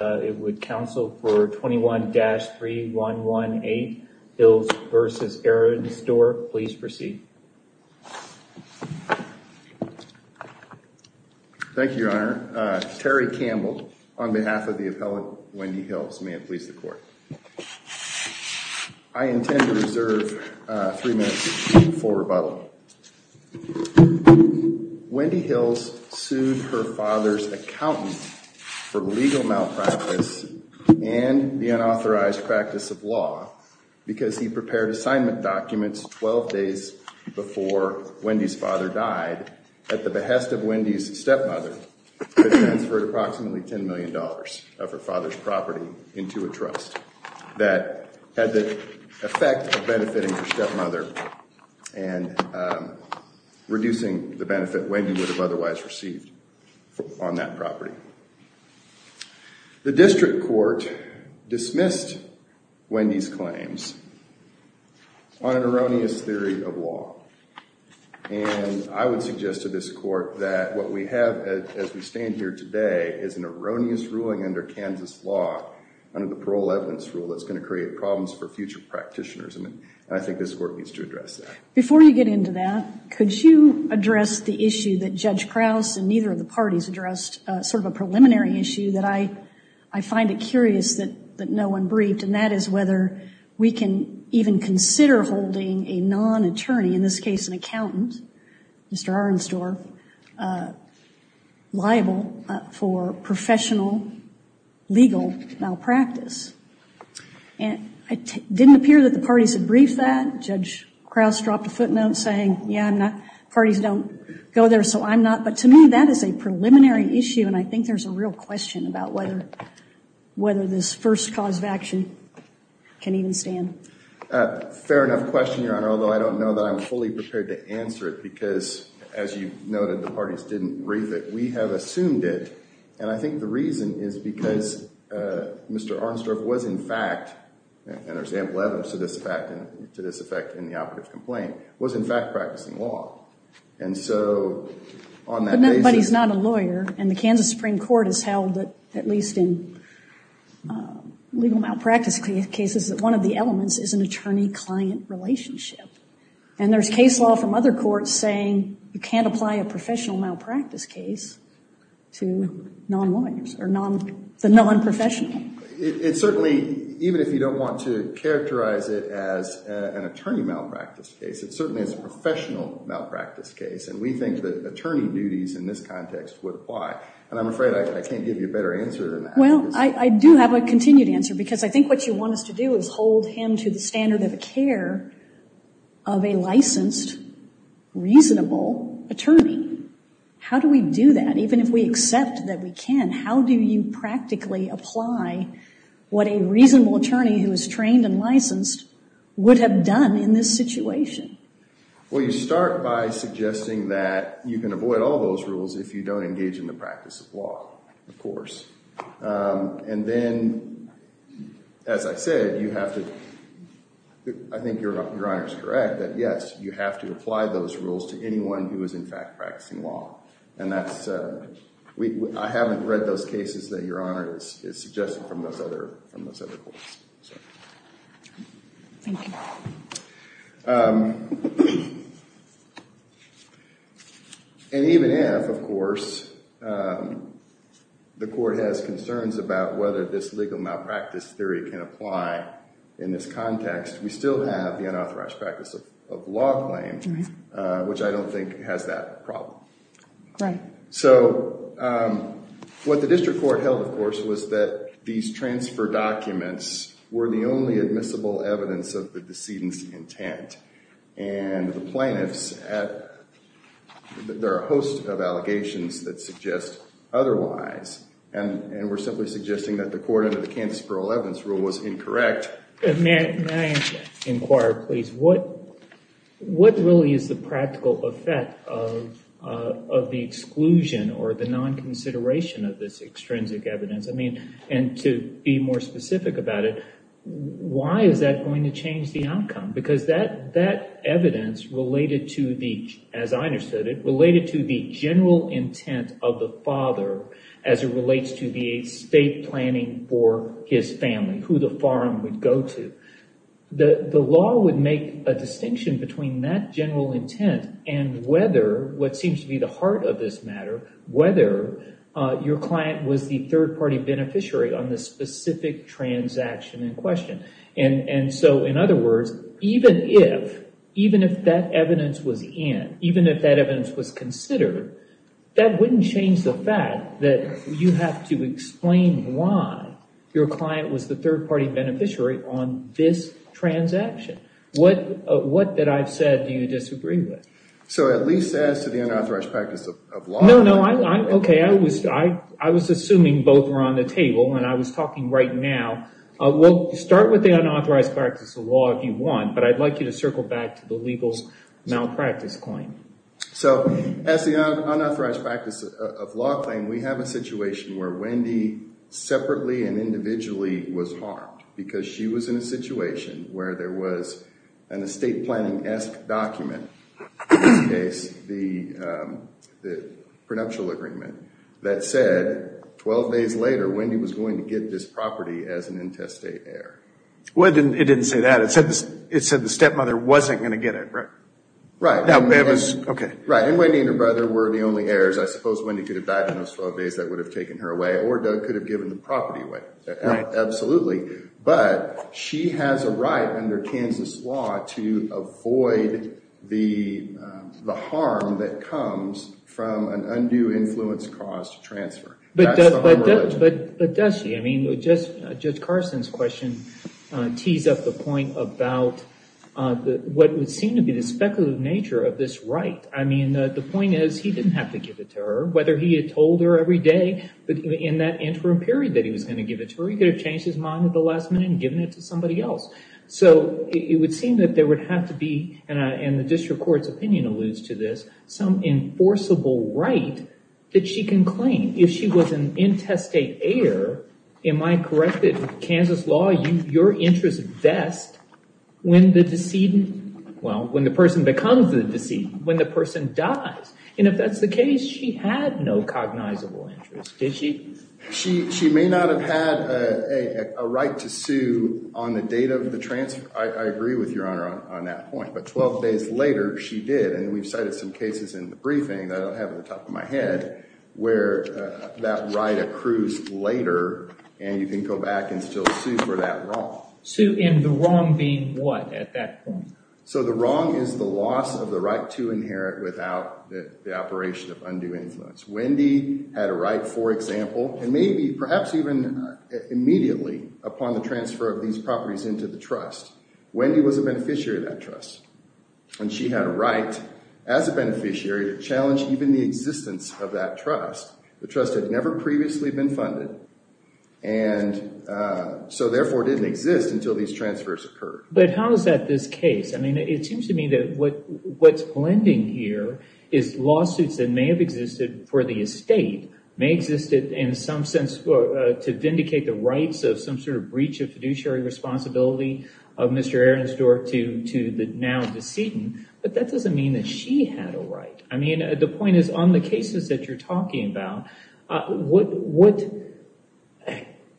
It would counsel for 21-3118 Hills v. Arensdorf. Please proceed. Thank you, Your Honor. Terry Campbell on behalf of the appellate Wendy Hills. May it please the court. I intend to reserve three minutes for rebuttal. Wendy Hills sued her father's accountant for legal malpractice and the unauthorized practice of law because he prepared assignment documents 12 days before Wendy's father died at the behest of Wendy's stepmother who transferred approximately $10 million of her father's money into her stepmother, reducing the benefit Wendy would have otherwise received on that property. The district court dismissed Wendy's claims on an erroneous theory of law. And I would suggest to this court that what we have as we stand here today is an erroneous ruling under Kansas law, under the parole evidence rule, that's going to create problems for future practitioners. And I think this court needs to address that. Before you get into that, could you address the issue that Judge Krause and neither of the parties addressed, sort of a preliminary issue that I find it curious that no one briefed, and that is whether we can even consider holding a non-attorney, in this case an accountant, Mr. Arnstorff, liable for professional legal malpractice. And it didn't appear that the parties had briefed that. Judge Krause dropped a footnote saying, yeah, I'm not, parties don't go there, so I'm not. But to me that is a preliminary issue and I think there's a real question about whether this first cause of action can even stand. Fair enough question, Your Honor, although I don't know that I'm fully prepared to answer it because, as you noted, the parties didn't brief it, we have assumed it. And I think the reason is because Mr. Arnstorff was in fact, and there's ample evidence to this effect in the operative complaint, was in fact practicing law. And so, on that basis... But he's not a lawyer and the Kansas Supreme Court has held that, at least in legal malpractice cases, that one of the elements is an attorney-client relationship. And there's case law from other courts saying you can't apply a professional malpractice case to non-lawyers, or the non-professional. It certainly, even if you don't want to characterize it as an attorney malpractice case, it certainly is a professional malpractice case and we think that attorney duties in this context would apply. And I'm afraid I can't give you a better answer than that. Well, I do have a continued answer because I think what you want us to do is hold him to the standard of care of a licensed, reasonable attorney. How do we do that? Even if we accept that we can, how do you practically apply what a reasonable attorney who is trained and licensed would have done in this situation? Well, you start by suggesting that you can avoid all those rules if you don't engage in the practice of law, of course. And then, as I said, you have to, I think Your Honor is correct, that yes, you have to apply those rules to anyone who is, in fact, practicing law. And that's, I haven't read those cases that Your Honor is suggesting from those other courts. Thank you. And even if, of course, the court has concerns about whether this legal malpractice theory can apply in this context, we still have the unauthorized practice of law claim, which I don't think has that problem. So, what the district court held, of course, was that these were not the decedent's intent. And the plaintiffs have, there are a host of allegations that suggest otherwise. And we're simply suggesting that the court under the Kansas parole evidence rule was incorrect. May I inquire, please? What really is the practical effect of the exclusion or the non-consideration of this extrinsic evidence? I mean, and to be more specific about it, why is that going to change the outcome? Because that evidence related to the, as I understood it, related to the general intent of the father as it relates to the estate planning for his family, who the farm would go to. The law would make a distinction between that general intent and whether, what seems to be the heart of this matter, whether your client was the third So, in other words, even if that evidence was in, even if that evidence was considered, that wouldn't change the fact that you have to explain why your client was the third party beneficiary on this transaction. What, that I've said, do you disagree with? So at least as to the unauthorized practice of law? No, no. Okay. I was assuming both were on the table and I was talking right now. We'll start with the unauthorized practice of law if you want, but I'd like you to circle back to the legal malpractice claim. So, as the unauthorized practice of law claim, we have a situation where Wendy separately and individually was harmed because she was in a situation where there was an estate planning-esque document, in this case, the prenuptial agreement, that said, 12 days later, Wendy was going to get this property as an intestate heir. Well, it didn't say that. It said the stepmother wasn't going to get it, right? Right. Now, that was, okay. Right. And Wendy and her brother were the only heirs. I suppose Wendy could have died in those 12 days. That would have taken her away. Or Doug could have given the property away. Absolutely. But she has a right, under Kansas law, to avoid the harm that comes from an undue influence caused transfer. That's the harm reduction. But does she? I mean, Judge Carson's question tees up the point about what would seem to be the speculative nature of this right. I mean, the point is, he didn't have to give it to her, whether he had told her every day, but in that interim period that he was going to give it to her, he could have changed his mind at the last minute and given it to somebody else. So, it would seem that there would have to be, and the district court's opinion alludes to this, some enforceable right that she can claim. If she was an intestate heir, am I corrected with Kansas law, your interest vests when the person becomes the decedent, when the person dies. And if that's the case, she had no cognizable interest. Did she? She may not have had a right to sue on the date of the transfer. I agree with Your Honor on that point. But 12 days later, she did. And we've cited some cases in the briefing that I don't have at the top of my head where that right accrues later, and you can go back and still sue for that wrong. Sue in the wrong being what at that point? So the wrong is the loss of the right to inherit without the operation of undue influence. Wendy had a right, for example, and maybe, perhaps even immediately upon the transfer of these properties into the trust. Wendy was a beneficiary of that trust, and she had a right as a beneficiary to challenge even the existence of that trust. The trust had never previously been funded, and so therefore didn't exist until these transfers occurred. But how is that this case? I mean, it seems to me that what's blending here is lawsuits that may have existed for the estate, may exist in some sense to vindicate the rights of some sort of breach of fiduciary responsibility of Mr. Aronsdorf to the now decedent, but that doesn't mean that she had a right. I mean, the point is, on the cases that you're talking about,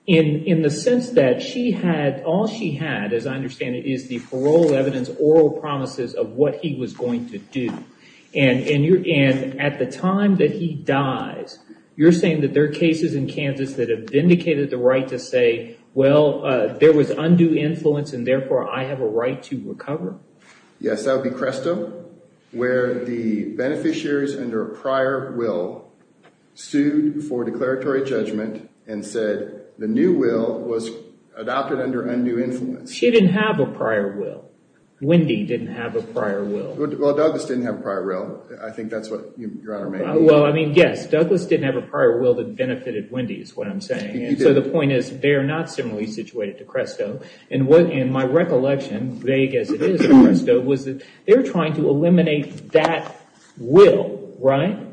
in the sense that she had, all she had, as I understand it, is the parole evidence, oral promises of what he was going to do. And at the time that he dies, you're to say, well, there was undue influence, and therefore I have a right to recover? Yes, that would be Cresto, where the beneficiaries under a prior will sued for declaratory judgment and said, the new will was adopted under undue influence. She didn't have a prior will. Wendy didn't have a prior will. Well, Douglas didn't have a prior will. I think that's what Your Honor may mean. Well, I mean, yes, Douglas didn't have a prior will that benefited Wendy, is what I'm saying. And so the point is, they are not similarly situated to Cresto. And my recollection, vague as it is, of Cresto was that they were trying to eliminate that will, right?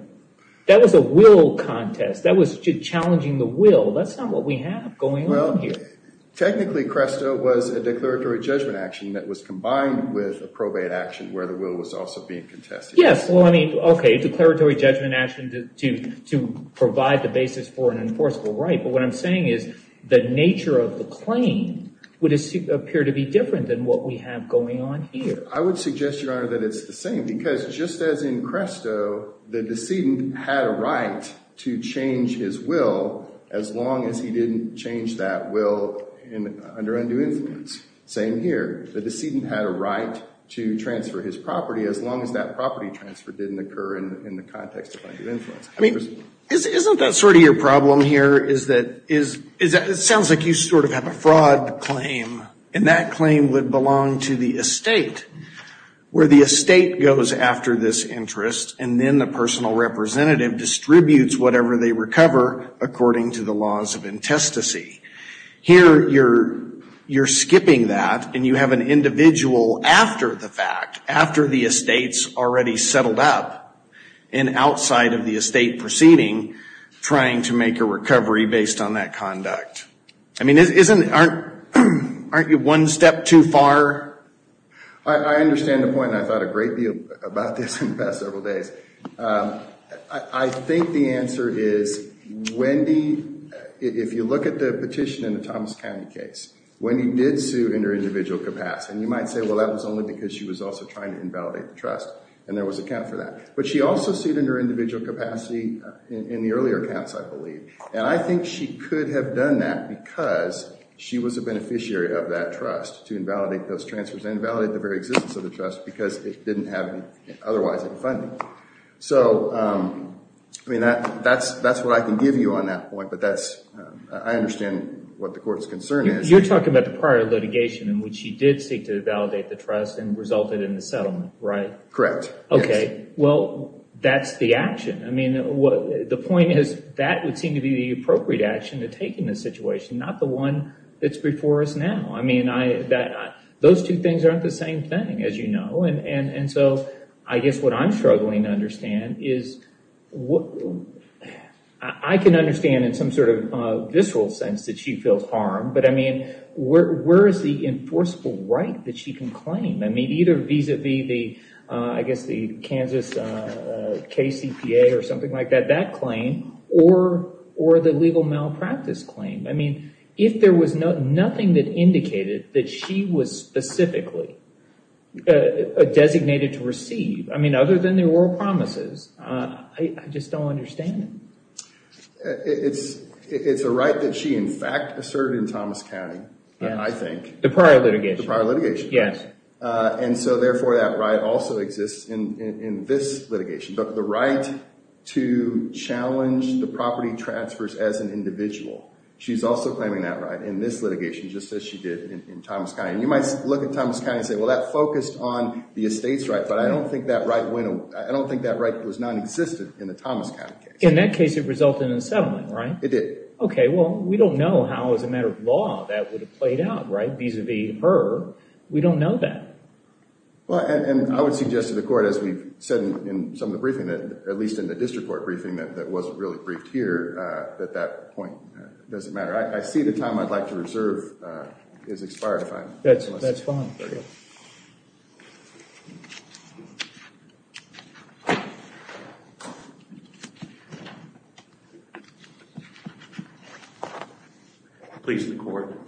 That was a will contest. That was challenging the will. That's not what we have going on here. Technically, Cresto was a declaratory judgment action that was combined with a probate action where the will was also being contested. Yes, well, I mean, okay, declaratory judgment action to provide the basis for an enforceable right. But what I'm saying is the nature of the claim would appear to be different than what we have going on here. I would suggest, Your Honor, that it's the same, because just as in Cresto, the decedent had a right to change his will as long as he didn't change that will under undue influence. Same here. The decedent had a right to transfer his property as long as that property transfer didn't occur in the context of undue influence. I mean, isn't that sort of your problem here, is that it sounds like you sort of have a fraud claim, and that claim would belong to the estate, where the estate goes after this interest, and then the personal representative distributes whatever they recover according to the laws of intestacy. Here, you're skipping that, and you have an individual after the fact, after the estate's already settled up, and outside of the estate proceeding, trying to make a recovery based on that conduct. I mean, aren't you one step too far? I understand the point, and I thought a great deal about this in the past several days. I think the answer is, Wendy, if you look at the petition in the Thomas County case, Wendy did sue in her individual capacity, and you might say, well, that was only because she was also trying to invalidate the trust, and there was a count for that, but she also sued in her individual capacity in the earlier counts, I believe, and I think she could have done that because she was a beneficiary of that trust to invalidate those transfers and invalidate the very existence of the trust because it didn't have otherwise any funding. So, I mean, that's what I can give you on that point, but I understand what the court's concern is. You're talking about the prior litigation in which she did seek to validate the trust and resulted in the settlement, right? Correct, yes. Okay, well, that's the action. I mean, the point is that would seem to be the appropriate action to take in this situation, not the one that's before us now. I mean, those two things aren't the same thing, as you know, and so I guess what I'm struggling to understand is, I can understand in some sort of visceral sense that she feels harmed, but, I mean, where is the enforceable right that she can claim? I mean, either vis-a-vis the, I guess the Kansas KCPA or something like that, that claim, or the legal malpractice claim. I mean, if there was nothing that indicated that she was specifically designated to receive, I mean, other than the oral promises, I just don't understand it. It's a right that she, in fact, asserted in Thomas County, I think. The prior litigation. The prior litigation. Yes. And so, therefore, that right also exists in this litigation. But the right to challenge the property transfers as an individual, she's also claiming that right in this litigation, just as she did in Thomas County. And you might look at Thomas County and say, well, that focused on the estates right, but I don't think that right went, I don't think that right was nonexistent in the Thomas County case. In that case, it resulted in a settlement, right? It did. Okay, well, we don't know how, as a matter of law, that would have played out, right, vis-a-vis her. We don't know that. Well, and I would suggest to the court, as we've said in some of the briefing, at least in the district court briefing that wasn't really briefed here, that that point doesn't matter. I see the time I'd like to reserve is expired, if I'm not mistaken. That's fine. Please, the court.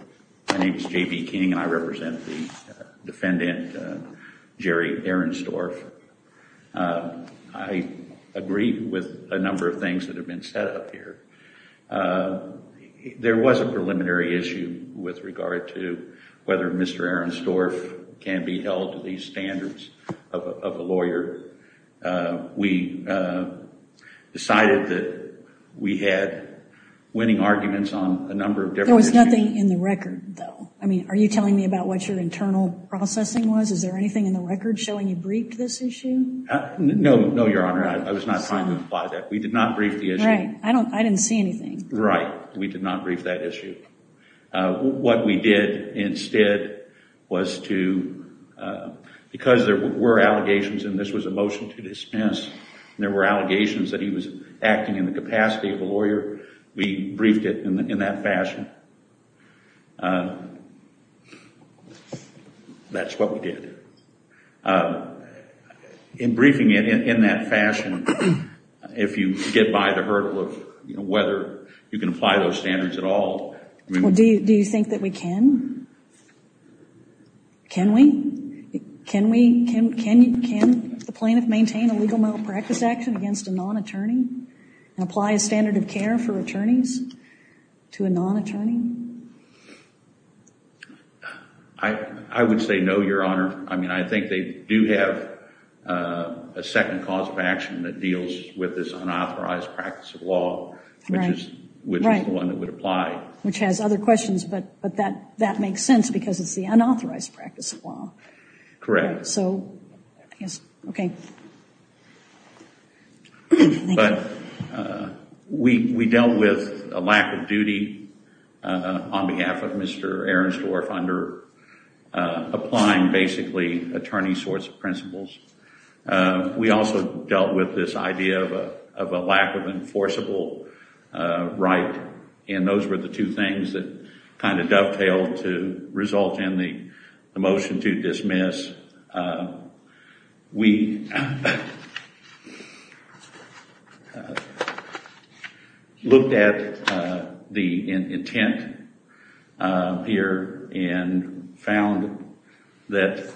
My name is J.B. King, and I represent the defendant, Jerry Ehrenstorf. I agree with a number of things that have been set up here. There was a preliminary issue with regard to whether Mr. Ehrenstorf can be held to the standards of a lawyer. We decided that we had winning arguments on a number of different issues. There was nothing in the record, though. I mean, are you telling me about what your internal processing was? Is there anything in the record showing you briefed this issue? No, Your Honor. I was not trying to imply that. We did not brief the issue. Right. I didn't see anything. Right. We did not brief that issue. What we did instead was to, because there were allegations, and this was a motion to dispense, and there were allegations that he was acting in the capacity of a lawyer, we briefed it in that fashion. In briefing it in that fashion, if you get by the hurdle of whether you can apply those standards at all. Do you think that we can? Can we? Can the plaintiff maintain a legal malpractice action against a non-attorney and apply a standard of care for attorneys to a non-attorney? I would say no, Your Honor. I mean, I think they do have a second cause of action that deals with this unauthorized practice of law, which is the one that would apply. Which has other questions, but that makes sense because it's the unauthorized practice of law. Correct. So, I guess, okay. But we dealt with a lack of duty on behalf of Mr. Ehrensdorf under applying basically attorney sorts of principles. We also dealt with this idea of a lack of enforceable right, and those were the two things that kind of dovetailed to result in the motion to dismiss. We looked at the intent here and found that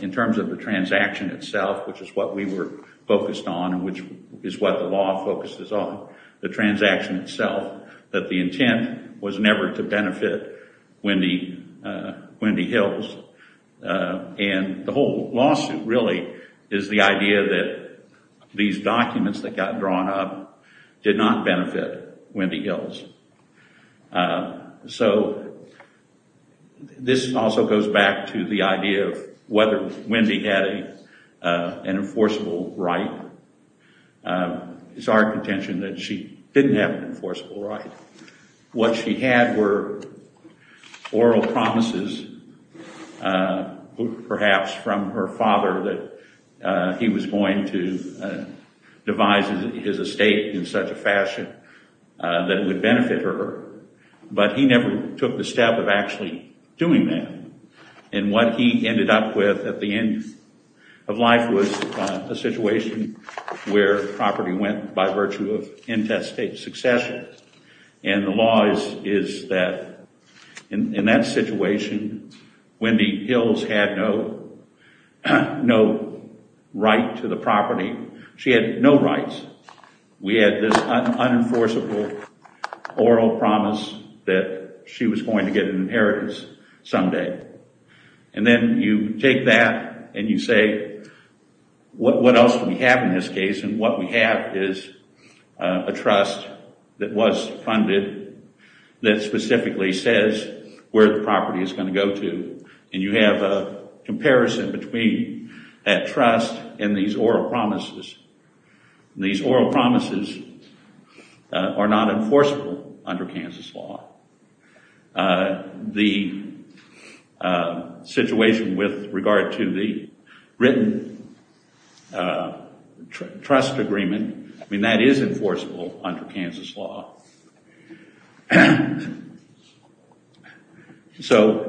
in terms of the transaction itself, which is what we were focused on and which is what the law focuses on, the transaction itself, that the intent was never to benefit Wendy Hills. And the whole lawsuit really is the idea that these documents that got drawn up did not benefit Wendy Hills. So, this also goes back to the idea of whether Wendy had an enforceable right. It's our contention that she didn't have an enforceable right. What she had were oral promises, perhaps from her father, that he was going to devise his estate in such a fashion that it would benefit her, but he never took the step of actually doing that. And what he ended up with at the end of life was a situation where property went by virtue of intestate succession. And the law is that in that situation, Wendy Hills had no right to the property. She had no rights. We had this unenforceable oral promise that she was going to get an inheritance someday. And then you take that and you say, what else do we have in this case? And what we have is a trust that was funded that specifically says where the property is going to go to. And you have a comparison between that trust and these oral promises. These oral promises are not enforceable under Kansas law. The situation with regard to the written trust agreement, I mean, that is enforceable under Kansas law. So,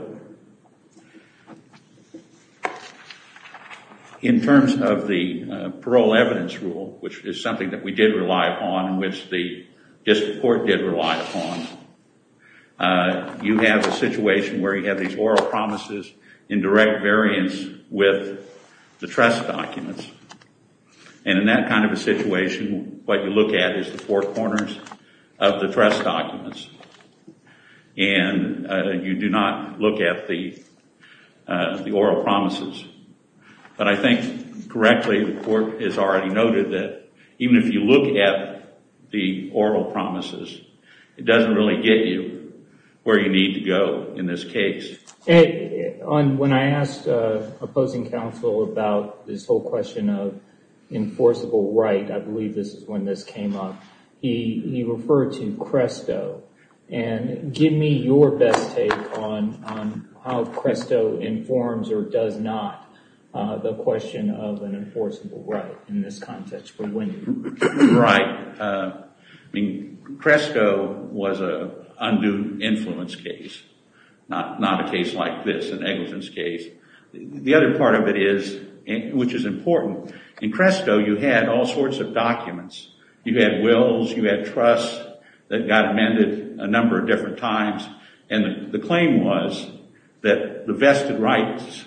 in terms of the parole evidence rule, which is something that we did rely upon, which the district court did rely upon, you have a situation where you have these oral promises in direct variance with the trust documents. And in that kind of a situation, what you look at is the four corners of the trust documents. And you do not look at the oral promises. But I think, correctly, the court has already noted that even if you look at the oral promises, it doesn't really get you where you need to go in this case. When I asked opposing counsel about this whole question of enforceable right, I believe this is when this came up, he referred to Cresto. And give me your best take on how Cresto informs or does not the question of an enforceable right in this context for winning. Right. Cresto was an undue influence case, not a case like this, an negligence case. The other part of it is, which is important, in Cresto you had all sorts of documents. You had wills, you had trusts that got amended a number of different times. And the claim was that the vested rights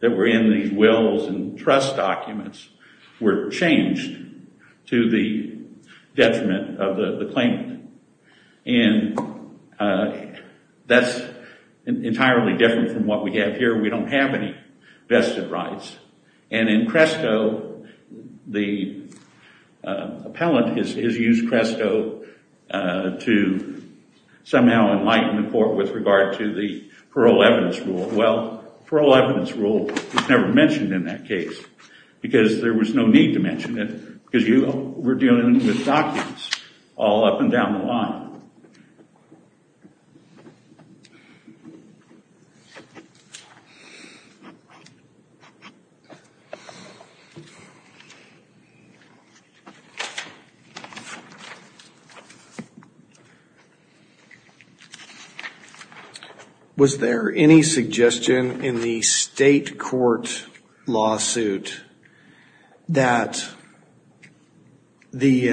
that were in these wills and trust documents were changed to the detriment of the claimant. And that's entirely different from what we have here. We don't have any vested rights. And in Cresto, the appellant has used Cresto to somehow enlighten the court with regard to the parole evidence rule. Well, parole evidence rule was never mentioned in that case because there was no need to mention it because you were dealing with documents all up and down the line. Was there any suggestion in the state court lawsuit that the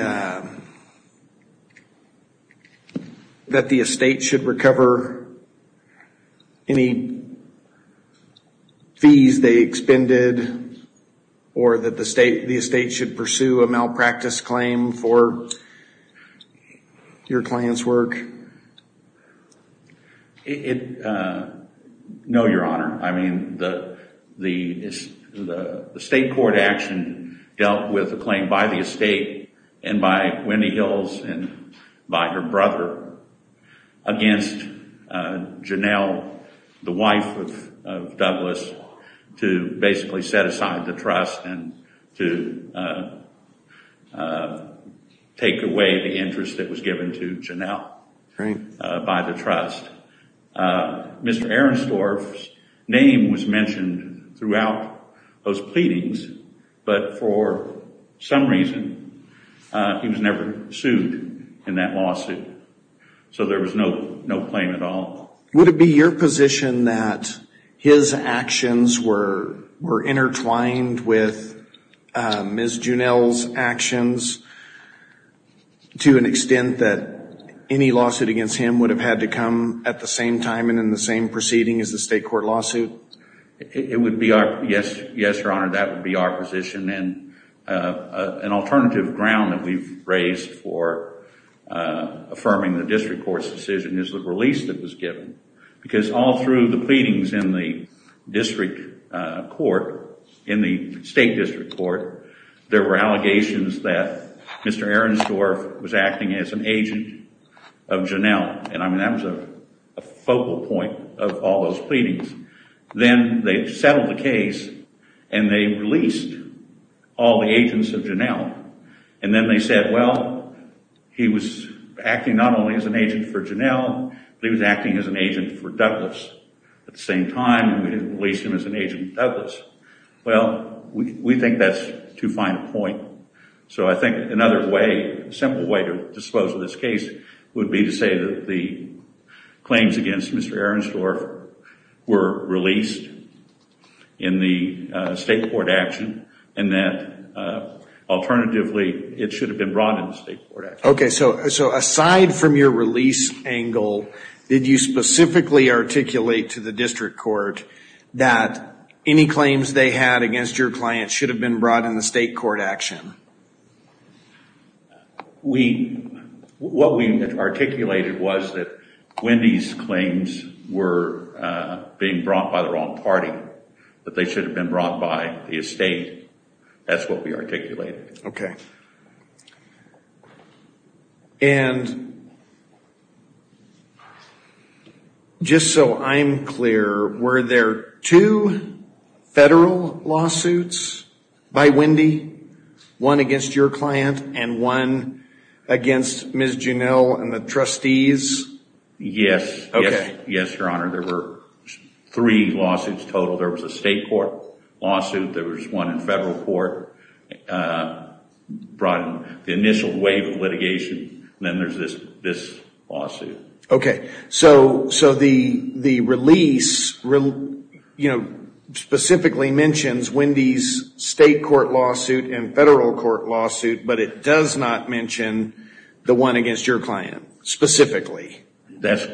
estate should recover any fees they expended? Or that the estate should pursue a malpractice claim for your client's work? No, Your Honor. I mean, the state court action dealt with a claim by the estate and by Wendy Hills and by her brother against Janelle, the wife of Douglas, to basically set aside the trust and to take away the interest that was given to Janelle by the trust. Mr. Ehrenstorf's name was mentioned throughout those pleadings, but for some reason, he was never sued in that lawsuit. So there was no claim at all. Would it be your position that his actions were intertwined with Ms. Janelle's actions to an extent that any lawsuit against him would have had to come at the same time and in the same proceeding as the state court lawsuit? Yes, Your Honor, that would be our position. An alternative ground that we've raised for affirming the district court's decision is the release that was given. Because all through the pleadings in the district court, in the state district court, there were allegations that Mr. Ehrenstorf was acting as an agent of Janelle. And I mean, that was a focal point of all those pleadings. Then they settled the case and they released all the agents of Janelle. And then they said, well, he was acting not only as an agent for Janelle, but he was acting as an agent for Douglas. At the same time, we didn't release him as an agent for Douglas. Well, we think that's too fine a point. So I think another way, a simple way to dispose of this case would be to say that the claims against Mr. Ehrenstorf were released in the state court action and that alternatively, it should have been brought in the state court action. Okay, so aside from your release angle, did you specifically articulate to the district court that any claims they had against your client should have been brought in the state court action? What we articulated was that Wendy's claims were being brought by the wrong party, that they should have been brought by the estate. Okay. And just so I'm clear, were there two federal lawsuits by Wendy? One against your client and one against Ms. Janelle and the trustees? Yes. Okay. Yes, Your Honor. There were three lawsuits total. There was a state court lawsuit. There was one in federal court brought in the initial wave of litigation. Then there's this lawsuit. Okay. So the release specifically mentions Wendy's state court lawsuit and federal court lawsuit, but it does not mention the one against your client specifically? That's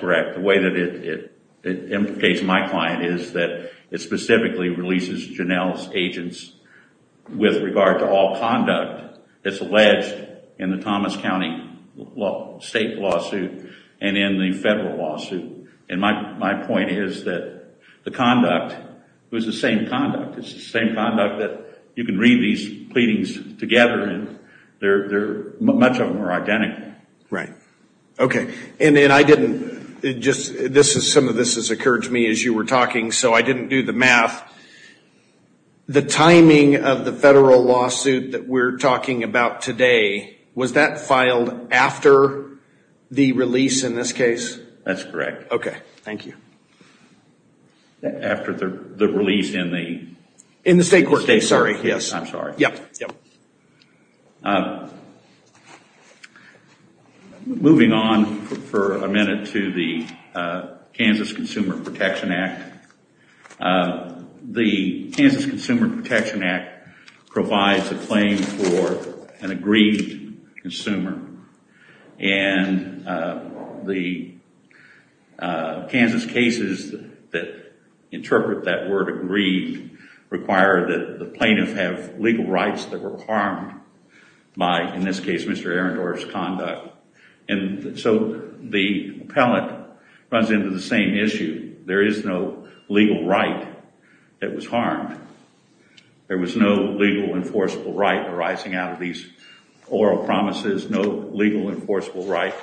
correct. The way that it implicates my client is that it specifically releases Janelle's agents with regard to all conduct that's alleged in the Thomas County state lawsuit and in the federal lawsuit. And my point is that the conduct was the same conduct. It's the same conduct that you can read these pleadings together, and much of them are identical. Right. Okay. Some of this has occurred to me as you were talking, so I didn't do the math. The timing of the federal lawsuit that we're talking about today, was that filed after the release in this case? That's correct. Okay. Thank you. After the release in the state court case. In the state court case. I'm sorry. Yep. Moving on for a minute to the Kansas Consumer Protection Act. The Kansas Consumer Protection Act provides a claim for an aggrieved consumer, and the Kansas cases that interpret that word aggrieved require that the plaintiff have legal rights that were harmed by, in this case, Mr. Arendorff's conduct. And so the appellate runs into the same issue. There is no legal right that was harmed. There was no legal enforceable right arising out of these oral promises, no legal enforceable right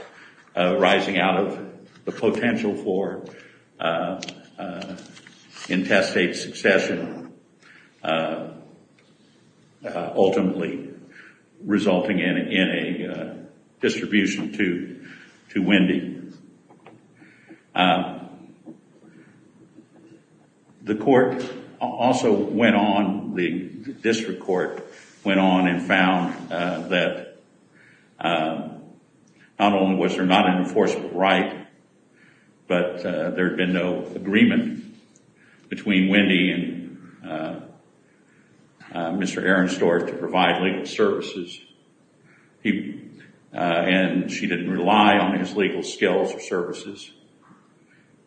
arising out of the potential for intestate succession, ultimately resulting in a distribution to Wendy. The court also went on, the district court went on and found that not only was there not an enforceable right, but there had been no agreement between Wendy and Mr. Arendorff to provide legal services. And she didn't rely on his legal skills or services.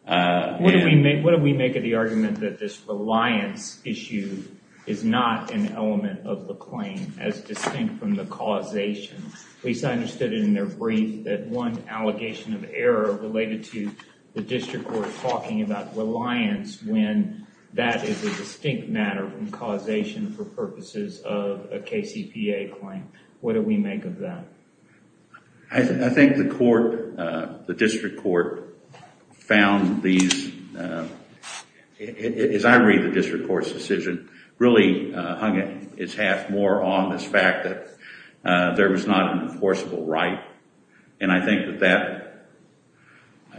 What do we make of the argument that this reliance issue is not an element of the claim as distinct from the causation? At least I understood it in their brief that one allegation of error related to the district court talking about reliance when that is a distinct matter from causation for purposes of a KCPA claim. What do we make of that? I think the court, the district court, found these, as I read the district court's decision, really hung its hat more on this fact that there was not an enforceable right. And I think that that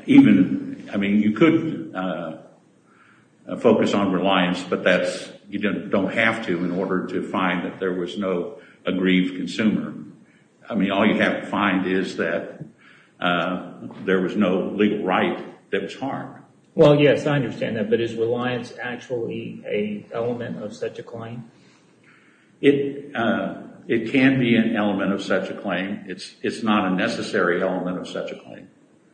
even, I mean, you could focus on reliance, but that's, you don't have to in order to find that there was no aggrieved consumer. I mean, all you have to find is that there was no legal right that was harmed. Well, yes, I understand that, but is reliance actually an element of such a claim? It can be an element of such a claim. It's not a necessary element of such a claim.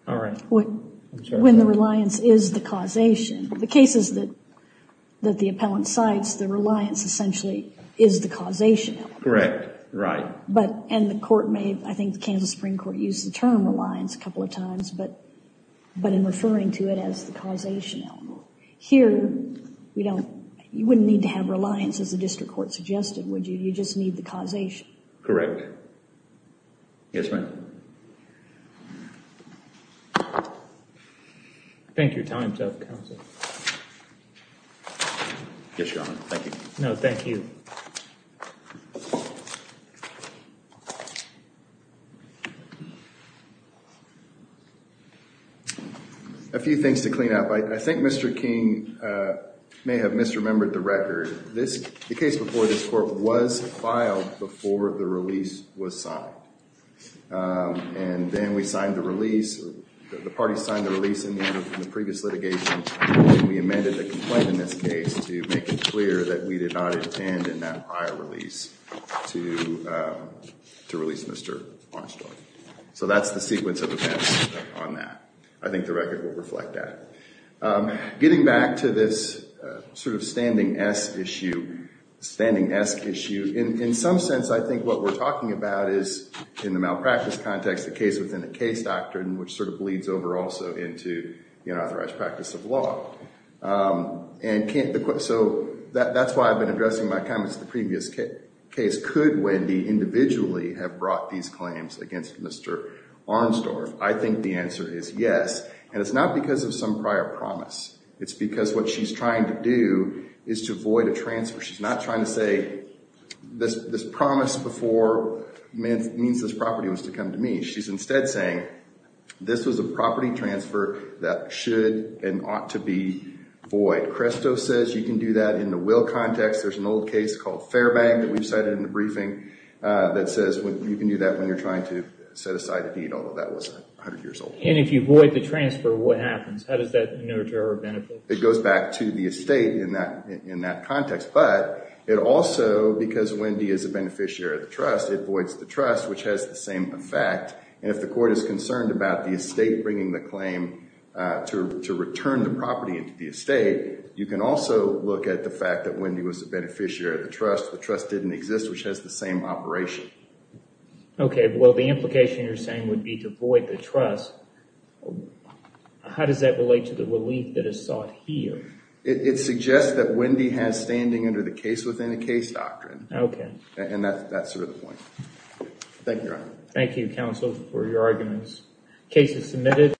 All right. When the reliance is the causation, the cases that the appellant cites, the reliance essentially is the causation element. Correct. Right. But, and the court may, I think the Kansas Supreme Court used the term reliance a couple of times, but in referring to it as the causation element. Here, we don't, you wouldn't need to have reliance as the district court suggested, would you? You just need the causation. Yes, ma'am. Thank you. Time's up, counsel. Yes, Your Honor. Thank you. No, thank you. A few things to clean up. I think Mr. King may have misremembered the record. The case before this court was filed before the release was signed. And then we signed the release, the parties signed the release in the previous litigation. We amended the complaint in this case to make it clear that we did not intend in that prior release to release Mr. Armstrong. So that's the sequence of events on that. I think the record will reflect that. Getting back to this sort of standing-esque issue, standing-esque issue, in some sense, I think what we're talking about is, in the malpractice context, the case within a case doctrine, which sort of bleeds over also into the unauthorized practice of law. And so that's why I've been addressing my comments in the previous case. Could Wendy individually have brought these claims against Mr. Armstrong? I think the answer is yes. And it's not because of some prior promise. It's because what she's trying to do is to void a transfer. She's not trying to say, this promise before means this property was to come to me. She's instead saying, this was a property transfer that should and ought to be void. Cresto says you can do that in the will context. There's an old case called Fairbank that we've cited in the briefing that says you can do that when you're trying to set aside a deed, although that was 100 years old. And if you void the transfer, what happens? How does that nurture or benefit? It goes back to the estate in that context. But it also, because Wendy is a beneficiary of the trust, it voids the trust, which has the same effect. And if the court is concerned about the estate bringing the claim to return the property to the estate, you can also look at the fact that Wendy was a beneficiary of the trust. The trust didn't exist, which has the same operation. Okay, well, the implication you're saying would be to void the trust. How does that relate to the relief that is sought here? It suggests that Wendy has standing under the case-within-a-case doctrine. Okay. And that's sort of the point. Thank you, Your Honor. Thank you, counsel, for your arguments. Case is submitted.